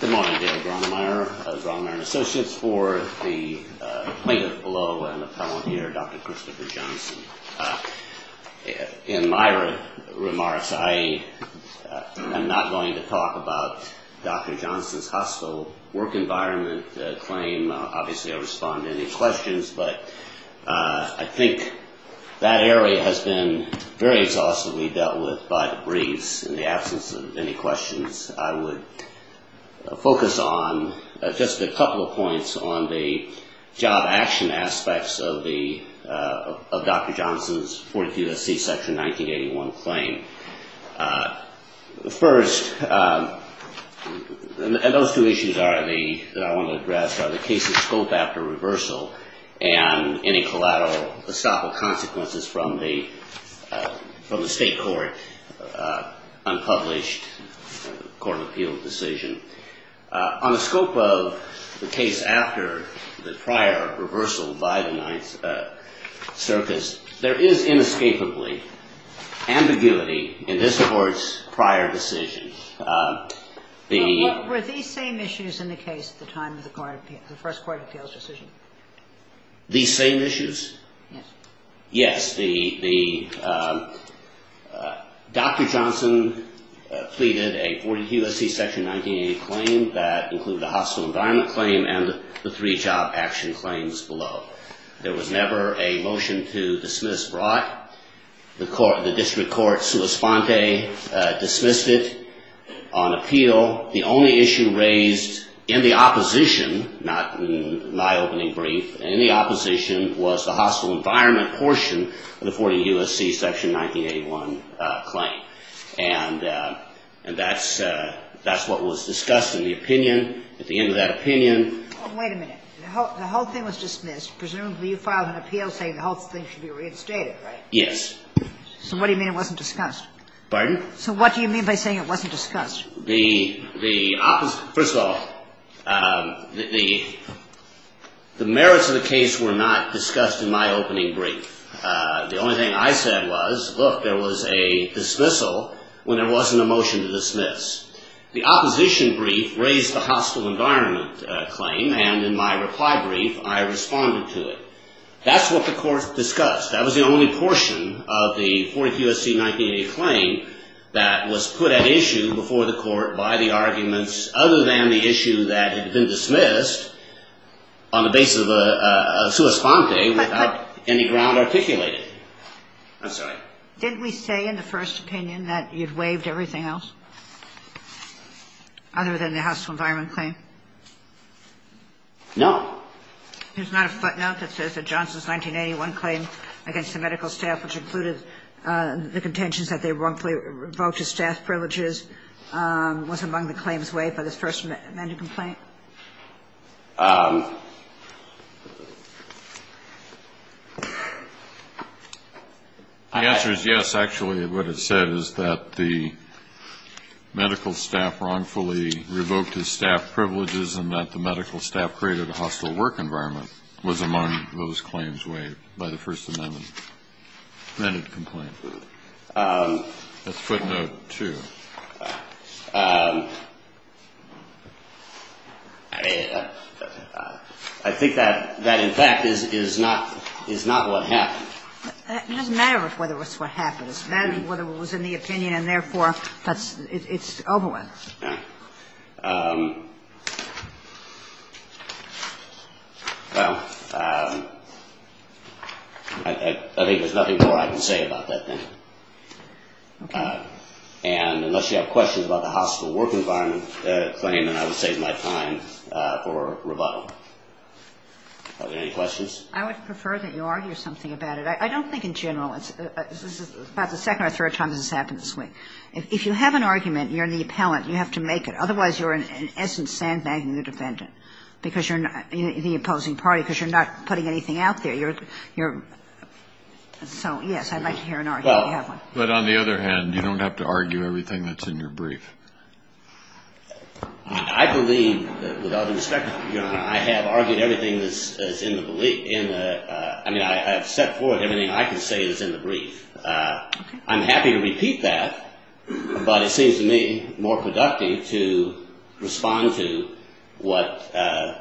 Good morning, David Rahnmeier of Rahnmeier & Associates. For the plaintiff below and the appellant here, Dr. Christopher Johnson. In my remarks, I am not going to talk about Dr. Johnson's hostile work environment claim. Obviously, I will respond to any questions, but I think that area has been very exhaustively dealt with by the briefs in the absence of any questions. I would focus on just a couple of points on the job action aspects of Dr. Johnson's 42SC Section 1981 claim. First, those two issues that I want to address are the case's scope after reversal and any collateral, estoppel consequences from the state court unpublished court of appeal decision. On the scope of the case after the prior reversal by the Ninth Circus, there is inescapably ambiguity in this Court's prior decision. Were these same issues in the case at the time of the first court of appeals decision? These same issues? Yes. Yes. Dr. Johnson pleaded a 42SC Section 1988 claim that included a hostile environment claim and the three job action claims below. There was never a motion to dismiss brought. The district court, sua sponte, dismissed it on appeal. The only issue raised in the opposition, not in my opening brief, in the opposition was the hostile environment portion of the 42SC Section 1981 claim. And that's what was discussed in the opinion at the end of that opinion. Wait a minute. The whole thing was dismissed. Presumably you filed an appeal saying the whole thing should be reinstated, right? Yes. So what do you mean it wasn't discussed? Pardon? So what do you mean by saying it wasn't discussed? First of all, the merits of the case were not discussed in my opening brief. The only thing I said was, look, there was a dismissal when there wasn't a motion to dismiss. The opposition brief raised the hostile environment claim. And in my reply brief, I responded to it. That's what the Court discussed. That was the only portion of the 42SC 1980 claim that was put at issue before the Court by the arguments other than the issue that had been dismissed on the basis of a sua sponte without any ground articulated. I'm sorry. Didn't we say in the first opinion that you'd waived everything else other than the hostile environment claim? No. There's not a footnote that says that Johnson's 1981 claim against the medical staff, which included the contentions that they wrongfully revoked his staff privileges, was among the claims waived by the first amended complaint? The answer is yes, actually. What it said is that the medical staff wrongfully revoked his staff privileges and that the medical staff created a hostile work environment was among those claims waived by the First Amendment amended complaint. That's footnote 2. I think that in fact is not what happened. It doesn't matter whether it's what happened. It matters whether it was in the opinion and, therefore, it's over with. Right. Well, I think there's nothing more I can say about that thing. Okay. And unless you have questions about the hostile work environment claim, then I would save my time for rebuttal. Are there any questions? I would prefer that you argue something about it. I don't think in general. This is about the second or third time this has happened this week. If you have an argument and you're the appellant, you have to make it. Otherwise, you're in essence sandbagging the defendant because you're not the opposing party because you're not putting anything out there. You're so, yes, I'd like to hear an argument if you have one. Well, but on the other hand, you don't have to argue everything that's in your brief. I believe, with all due respect, I have argued everything that's in the brief. I mean, I have set forth everything I can say that's in the brief. I'm happy to repeat that, but it seems to me more productive to respond to whatever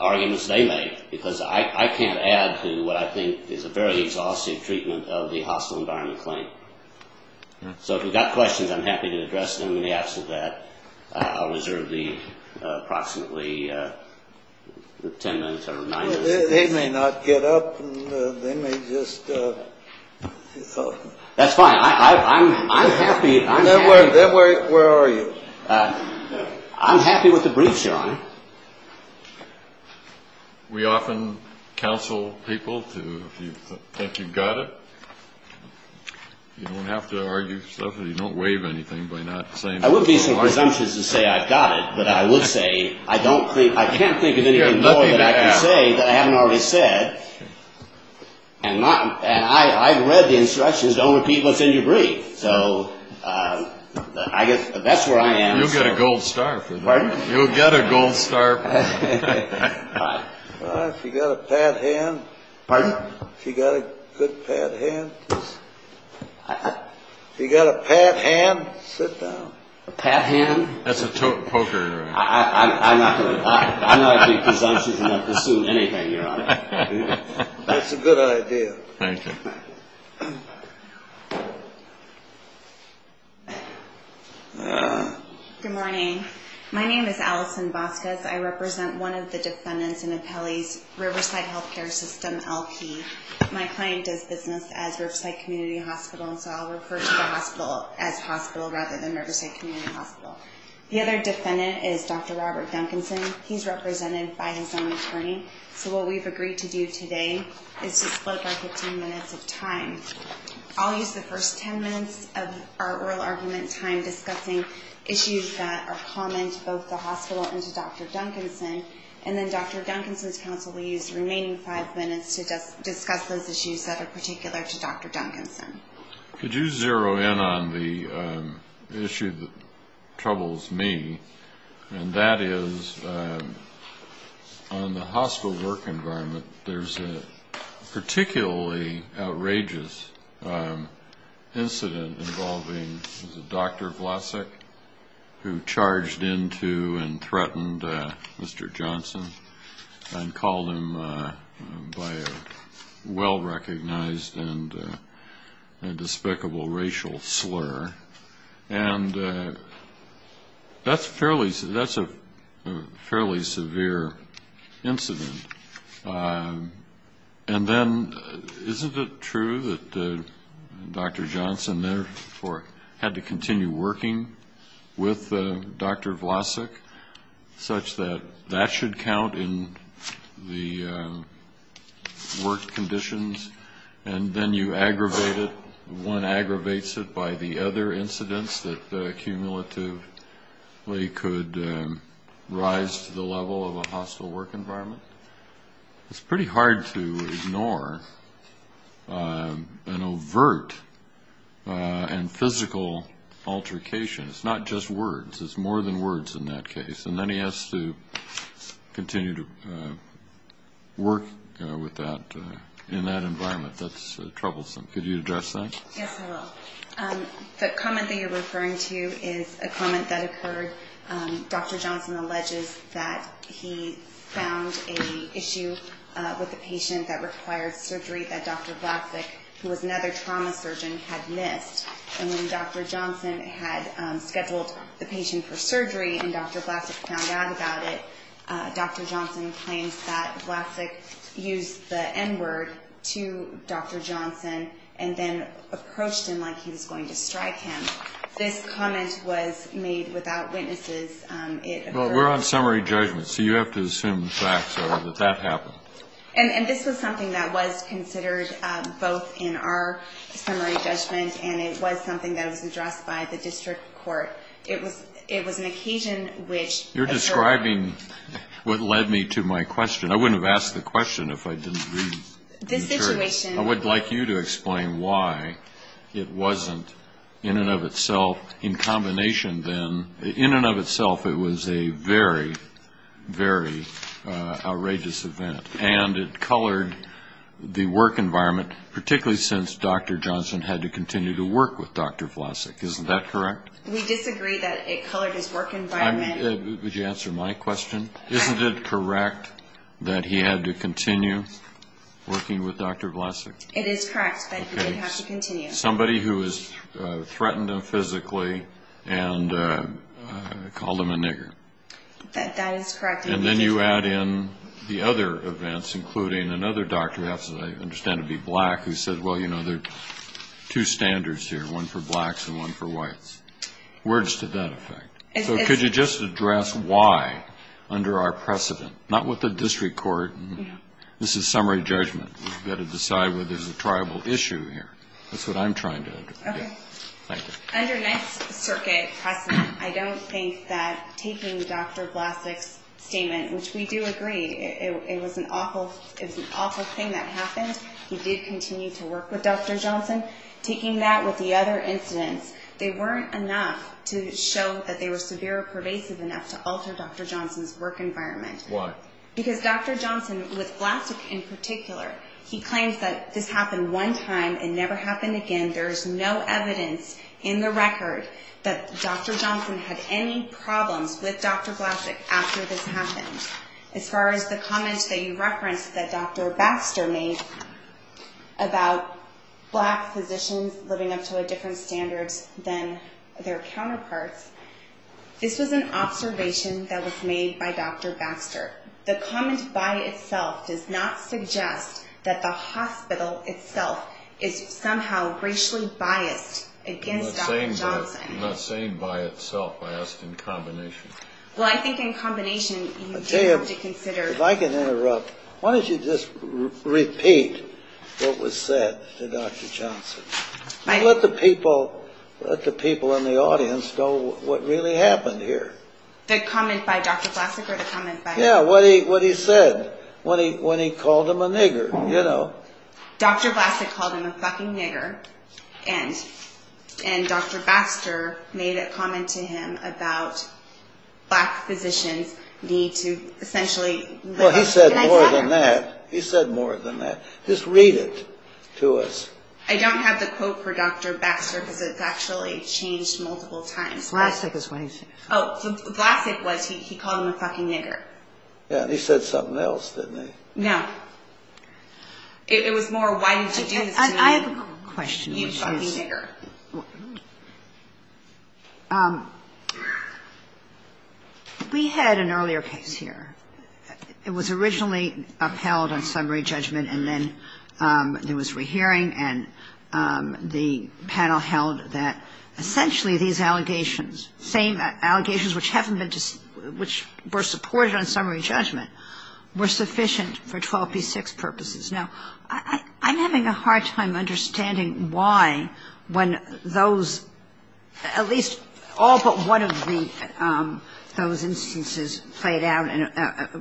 arguments they make because I can't add to what I think is a very exhaustive treatment of the hostile environment claim. So if you've got questions, I'm happy to address them in the absence of that. I'll reserve the approximately ten minutes or nine minutes. They may not get up. They may just – That's fine. I'm happy. Where are you? I'm happy with the brief, Your Honor. We often counsel people to – if you think you've got it. You don't have to argue stuff. You don't waive anything by not saying – I would be so presumptuous to say I've got it, but I would say I don't think – I can't think of anything more that I can say that I haven't already said. And I've read the instructions, don't repeat what's in your brief. So I guess that's where I am. You'll get a gold star for that. Pardon? You'll get a gold star for that. If you've got a pat hand. Pardon? If you've got a good pat hand. If you've got a pat hand, sit down. A pat hand? That's a poker. I'm not presumptuous enough to assume anything, Your Honor. That's a good idea. Thank you. Good morning. My name is Allison Vasquez. I represent one of the defendants in Apelli's Riverside Healthcare System, LP. My client does business as Riverside Community Hospital, and so I'll refer to the hospital as hospital rather than Riverside Community Hospital. The other defendant is Dr. Robert Duncanson. He's represented by his own attorney. So what we've agreed to do today is to split our 15 minutes of time. I'll use the first 10 minutes of our oral argument time discussing issues that are common to both the hospital and to Dr. Duncanson, and then Dr. Duncanson's counsel will use the remaining five minutes to discuss those issues that are particular to Dr. Duncanson. Could you zero in on the issue that troubles me, and that is on the hospital work environment, that there's a particularly outrageous incident involving Dr. Vlasic, who charged into and threatened Mr. Johnson and called him by a well-recognized and despicable racial slur. And that's a fairly severe incident. And then isn't it true that Dr. Johnson therefore had to continue working with Dr. Vlasic, such that that should count in the work conditions, and then you aggravate it, one aggravates it by the other incidents that cumulatively could rise to the level of a hostile work environment? It's pretty hard to ignore an overt and physical altercation. It's not just words. It's more than words in that case. And then he has to continue to work in that environment. That's troublesome. Could you address that? Yes, I will. The comment that you're referring to is a comment that occurred. Dr. Johnson alleges that he found an issue with a patient that required surgery that Dr. Vlasic, who was another trauma surgeon, had missed. And when Dr. Johnson had scheduled the patient for surgery and Dr. Vlasic found out about it, Dr. Johnson claims that Vlasic used the N-word to Dr. Johnson and then approached him like he was going to strike him. This comment was made without witnesses. Well, we're on summary judgment, so you have to assume the facts are that that happened. And this was something that was considered both in our summary judgment and it was something that was addressed by the district court. It was an occasion which occurred. You're describing what led me to my question. I wouldn't have asked the question if I didn't read the attorney. I would like you to explain why it wasn't, in and of itself, in combination then. In and of itself, it was a very, very outrageous event. And it colored the work environment, particularly since Dr. Johnson had to continue to work with Dr. Vlasic. Isn't that correct? We disagree that it colored his work environment. Would you answer my question? Isn't it correct that he had to continue working with Dr. Vlasic? It is correct that he did have to continue. Somebody who has threatened him physically and called him a nigger. That is correct. And then you add in the other events, including another doctor, who I understand to be black, who said, well, you know, there are two standards here, one for blacks and one for whites. Words to that effect. So could you just address why, under our precedent, not with the district court. This is summary judgment. We've got to decide whether there's a tribal issue here. That's what I'm trying to do. Okay. Thank you. Under next circuit precedent, I don't think that taking Dr. Vlasic's statement, which we do agree, it was an awful thing that happened. He did continue to work with Dr. Johnson. Taking that with the other incidents, they weren't enough to show that they were severe or pervasive enough to alter Dr. Johnson's work environment. Why? Because Dr. Johnson, with Vlasic in particular, he claims that this happened one time and never happened again. There is no evidence in the record that Dr. Johnson had any problems with Dr. Vlasic after this happened. As far as the comments that you referenced that Dr. Baxter made about black physicians living up to a different standard than their counterparts, this was an observation that was made by Dr. Baxter. The comment by itself does not suggest that the hospital itself is somehow racially biased against Dr. Johnson. I'm not saying by itself. I asked in combination. Well, I think in combination you do have to consider. If I can interrupt, why don't you just repeat what was said to Dr. Johnson? Let the people in the audience know what really happened here. Yeah, what he said when he called him a nigger, you know. Dr. Vlasic called him a fucking nigger, and Dr. Baxter made a comment to him about black physicians need to essentially Well, he said more than that. He said more than that. Just read it to us. I don't have the quote for Dr. Baxter because it's actually changed multiple times. Vlasic is what he said. Oh, so Vlasic was he called him a fucking nigger. Yeah, he said something else, didn't he? No. It was more why did you do this to me, you fucking nigger. I have a question, which is we had an earlier case here. It was originally upheld on summary judgment, and then there was rehearing, and the panel held that essentially these allegations, same allegations which were supported on summary judgment, were sufficient for 12p6 purposes. Now, I'm having a hard time understanding why when those, at least all but one of those instances played out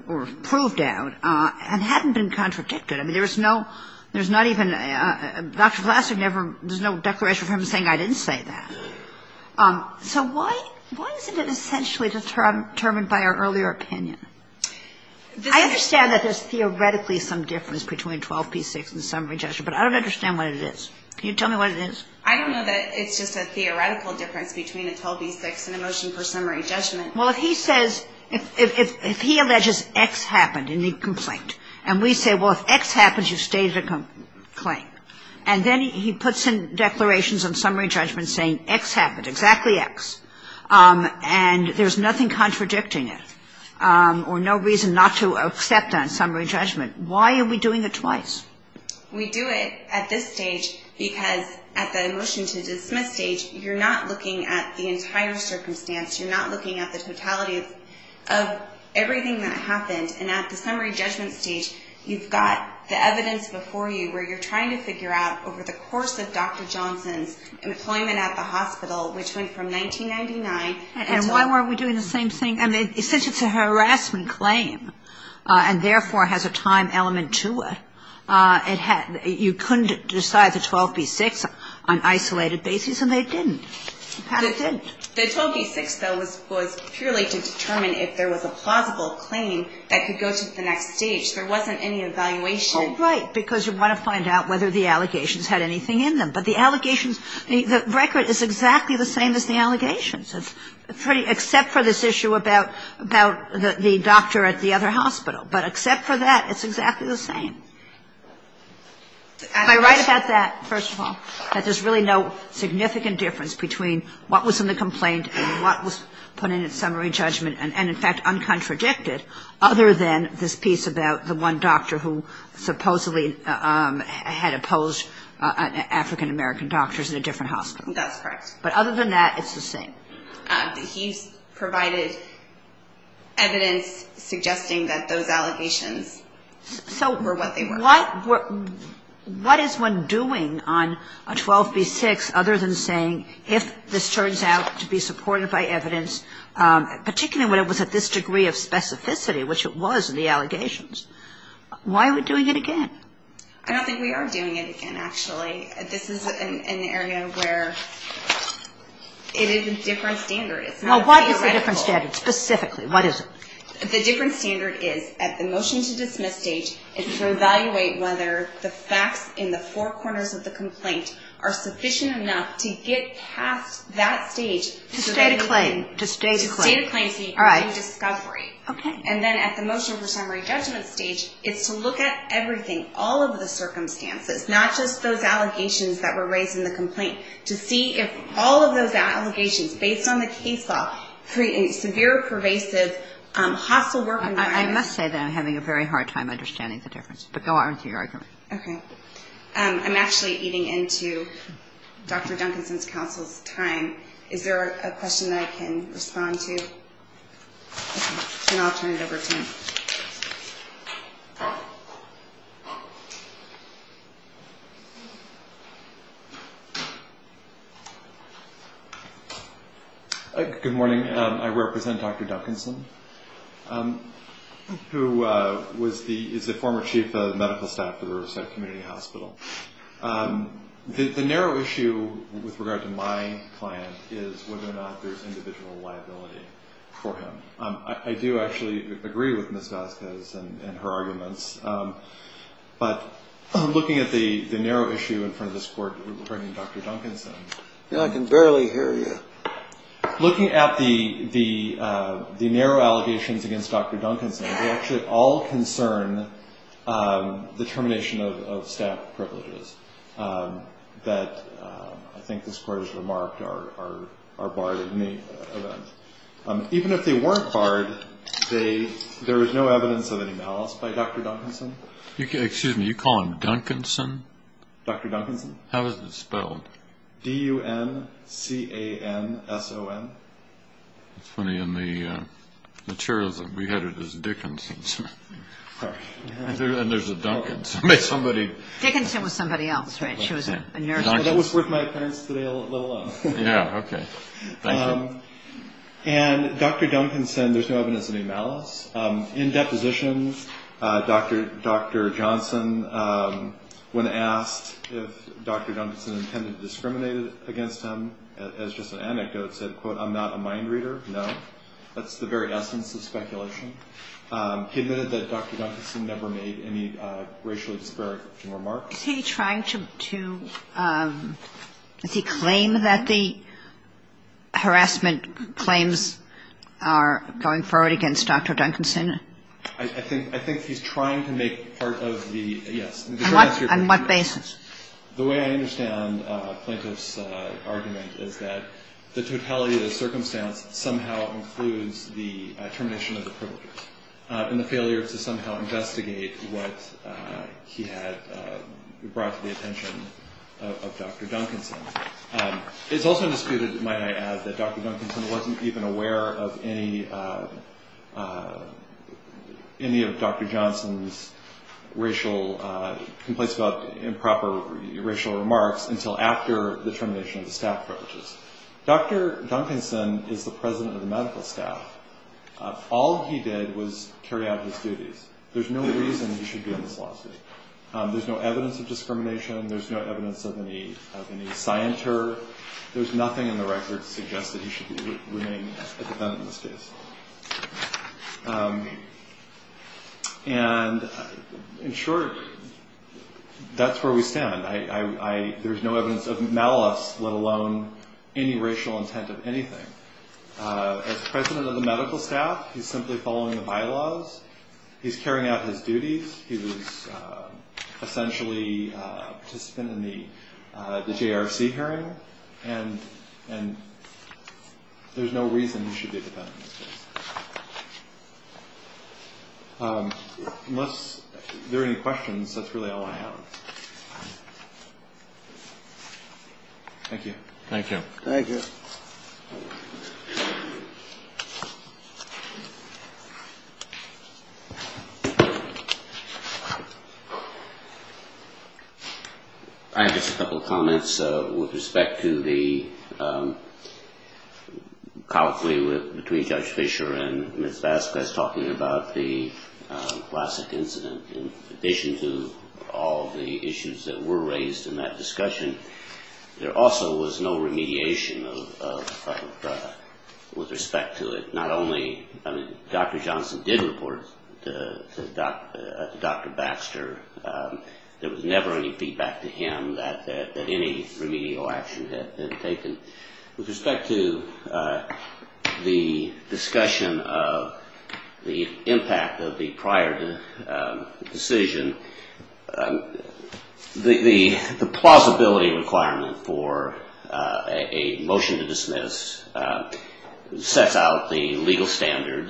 or proved out and hadn't been contradicted. I mean, there was no, there's not even, Dr. Vlasic never, there's no declaration from him saying I didn't say that. So why isn't it essentially determined by our earlier opinion? I understand that there's theoretically some difference between 12p6 and summary judgment, but I don't understand what it is. Can you tell me what it is? I don't know that it's just a theoretical difference between a 12p6 and a motion for summary judgment. Well, if he says, if he alleges X happened in the complaint, and we say, well, if X happens, you've stated a complaint, and then he puts in declarations on summary judgment saying X happened, exactly X, and there's nothing contradicting it or no reason not to accept that on summary judgment. Why are we doing it twice? We do it at this stage because at the motion to dismiss stage, you're not looking at the entire circumstance. You're not looking at the totality of everything that happened. And at the summary judgment stage, you've got the evidence before you where you're trying to figure out over the course of Dr. Johnson's employment at the hospital, which went from 1999. And why weren't we doing the same thing? I mean, since it's a harassment claim, and therefore has a time element to it, you couldn't decide the 12p6 on isolated basis, and they didn't. The 12p6, though, was purely to determine if there was a plausible claim that could go to the next stage. There wasn't any evaluation. Right, because you want to find out whether the allegations had anything in them. But the allegations, the record is exactly the same as the allegations, except for this issue about the doctor at the other hospital. But except for that, it's exactly the same. Am I right about that, first of all, that there's really no significant difference between what was in the complaint and what was put in its summary judgment, and, in fact, uncontradicted, other than this piece about the one doctor who supposedly had opposed African-American doctors at a different hospital? That's correct. But other than that, it's the same? He's provided evidence suggesting that those allegations were what they were. What is one doing on a 12p6 other than saying if this turns out to be supported by evidence, particularly when it was at this degree of specificity, which it was in the allegations, why are we doing it again? I don't think we are doing it again, actually. This is an area where it is a different standard. It's not a theoretical. Well, what is the different standard specifically? What is it? The different standard is, at the motion to dismiss stage, it's to evaluate whether the facts in the four corners of the complaint are sufficient enough to get past that stage. To state a claim. To state a claim. To state a claim in discovery. Okay. And then at the motion for summary judgment stage, it's to look at everything, all of the circumstances, not just those allegations that were raised in the complaint, to see if all of those allegations, based on the case law, create a severe, pervasive, hostile work environment. I must say that I'm having a very hard time understanding the difference. But go on with your argument. Okay. I'm actually eating into Dr. Duncanson's counsel's time. Is there a question that I can respond to? And I'll turn it over to him. Good morning. I represent Dr. Duncanson, who is the former chief of medical staff at Riverside Community Hospital. The narrow issue, with regard to my client, is whether or not there's individual liability for him. I do actually agree with Ms. Vasquez and her arguments. But looking at the narrow issue in front of this court, referring to Dr. Duncanson. I can barely hear you. Looking at the narrow allegations against Dr. Duncanson, they actually all concern the termination of staff privileges that I think this court has remarked are barred. Even if they weren't barred, there is no evidence of any malice by Dr. Duncanson. Excuse me. You call him Duncanson? Dr. Duncanson. How is it spelled? D-U-N-C-A-N-S-O-N. It's funny. In the materials that we had, it was Dickinson. And there's a Duncanson. Dickinson was somebody else, right? She was a nurse. That was worth my appearance today alone. Yeah, okay. Thank you. And Dr. Duncanson, there's no evidence of any malice. In depositions, Dr. Johnson, when asked if Dr. Duncanson intended to discriminate against him, as just an anecdote, said, quote, I'm not a mind reader. No. That's the very essence of speculation. He admitted that Dr. Duncanson never made any racially disparaging remarks. Is he trying to claim that the harassment claims are going forward against Dr. Duncanson? I think he's trying to make part of the, yes. On what basis? The way I understand Plaintiff's argument is that the totality of the circumstance somehow includes the termination of the privilege and the failure to somehow investigate what he had brought to the attention of Dr. Duncanson. It's also disputed, might I add, that Dr. Duncanson wasn't even aware of any of Dr. Johnson's racial complaints about improper racial remarks until after the termination of the staff privileges. Dr. Duncanson is the president of the medical staff. All he did was carry out his duties. There's no reason he should be on this lawsuit. There's no evidence of discrimination. There's no evidence of any scienter. There's nothing in the records that suggests that he should remain a defendant in this case. And in short, that's where we stand. There's no evidence of malice, let alone any racial intent of anything. As president of the medical staff, he's simply following the bylaws. He's carrying out his duties. He was essentially a participant in the JRC hearing. And there's no reason he should be a defendant in this case. Unless there are any questions, that's really all I have. Thank you. Thank you. Thank you. I have just a couple of comments with respect to the colloquy between Judge Fischer and Ms. Vasquez talking about the classic incident. In addition to all the issues that were raised in that discussion, there also was no remediation with respect to it. Not only Dr. Johnson did report to Dr. Baxter, there was never any feedback to him that any remedial action had been taken. With respect to the discussion of the impact of the prior decision, the plausibility requirement for a motion to dismiss sets out the legal standard,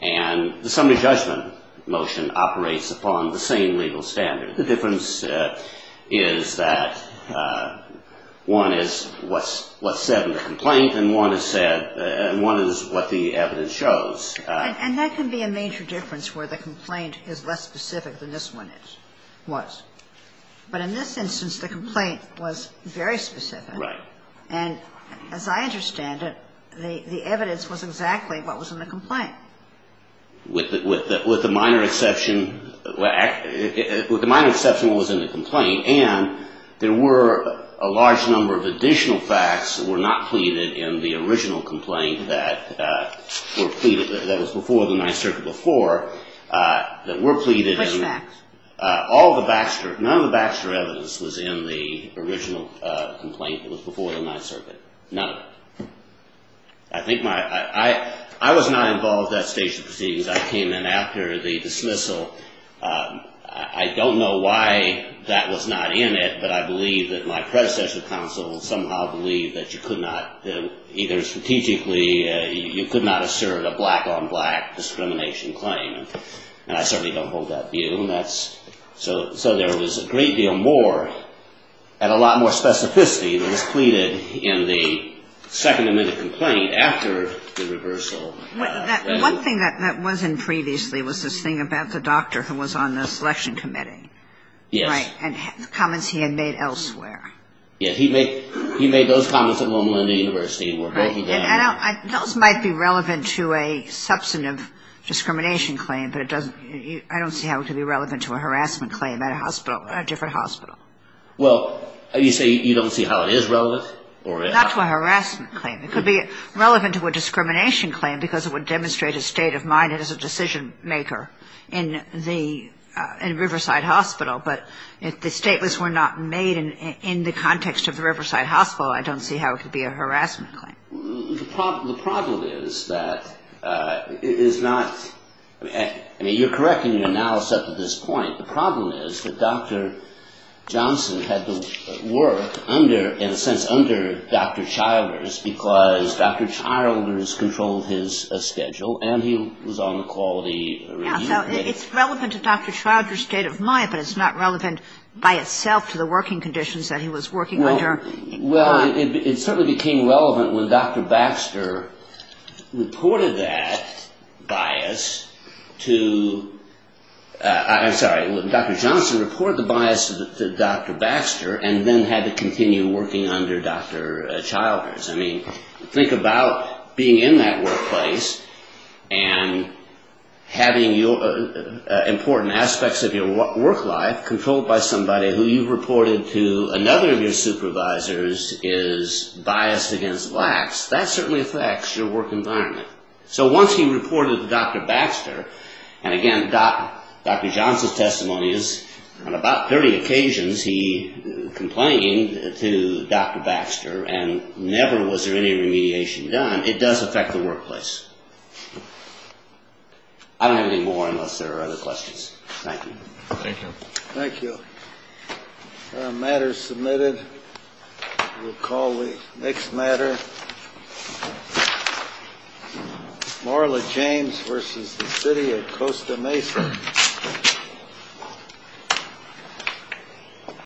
and the summary judgment motion operates upon the same legal standard. The difference is that one is what's said in the complaint, and one is what the evidence shows. And that can be a major difference where the complaint is less specific than this one was. But in this instance, the complaint was very specific. Right. And as I understand it, the evidence was exactly what was in the complaint. With the minor exception, well, with the minor exception what was in the complaint, and there were a large number of additional facts that were not pleaded in the original complaint that was before the Ninth Circuit before that were pleaded. Which facts? None of the Baxter evidence was in the original complaint that was before the Ninth Circuit. None of it. I was not involved at that stage of proceedings. I came in after the dismissal. I don't know why that was not in it, but I believe that my predecessor counsel somehow believed that you could not either strategically, you could not assert a black-on-black discrimination claim. And I certainly don't hold that view. So there was a great deal more and a lot more specificity that was pleaded in the second admitted complaint after the reversal. One thing that wasn't previously was this thing about the doctor who was on the selection committee. Yes. And the comments he had made elsewhere. Yes, he made those comments at Loma Linda University. Those might be relevant to a substantive discrimination claim, but I don't see how it could be relevant to a harassment claim at a different hospital. Well, you say you don't see how it is relevant? Not to a harassment claim. It could be relevant to a discrimination claim because it would demonstrate a state of mind as a decision-maker in the, in Riverside Hospital. But if the statements were not made in the context of the Riverside Hospital, I don't see how it could be a harassment claim. The problem is that it is not, I mean, you're correct in your analysis up to this point. The problem is that Dr. Johnson had to work under, in a sense, under Dr. Childers because Dr. Childers controlled his schedule and he was on the quality review committee. Yes. So it's relevant to Dr. Childers' state of mind, but it's not relevant by itself to the working conditions that he was working under. Well, it certainly became relevant when Dr. Baxter reported that bias to, I'm sorry, when Dr. Johnson reported the bias to Dr. Baxter and then had to continue working under Dr. Childers. I mean, think about being in that workplace and having important aspects of your work life controlled by somebody who you reported to another of your supervisors is biased against blacks. That certainly affects your work environment. So once he reported to Dr. Baxter, and again, Dr. Johnson's testimony is, on about 30 occasions he complained to Dr. Baxter and never was there any remediation done. It does affect the workplace. I don't have any more unless there are other questions. Thank you. Thank you. Matters submitted. We'll call the next matter. Marla James versus the city of Costa Mesa.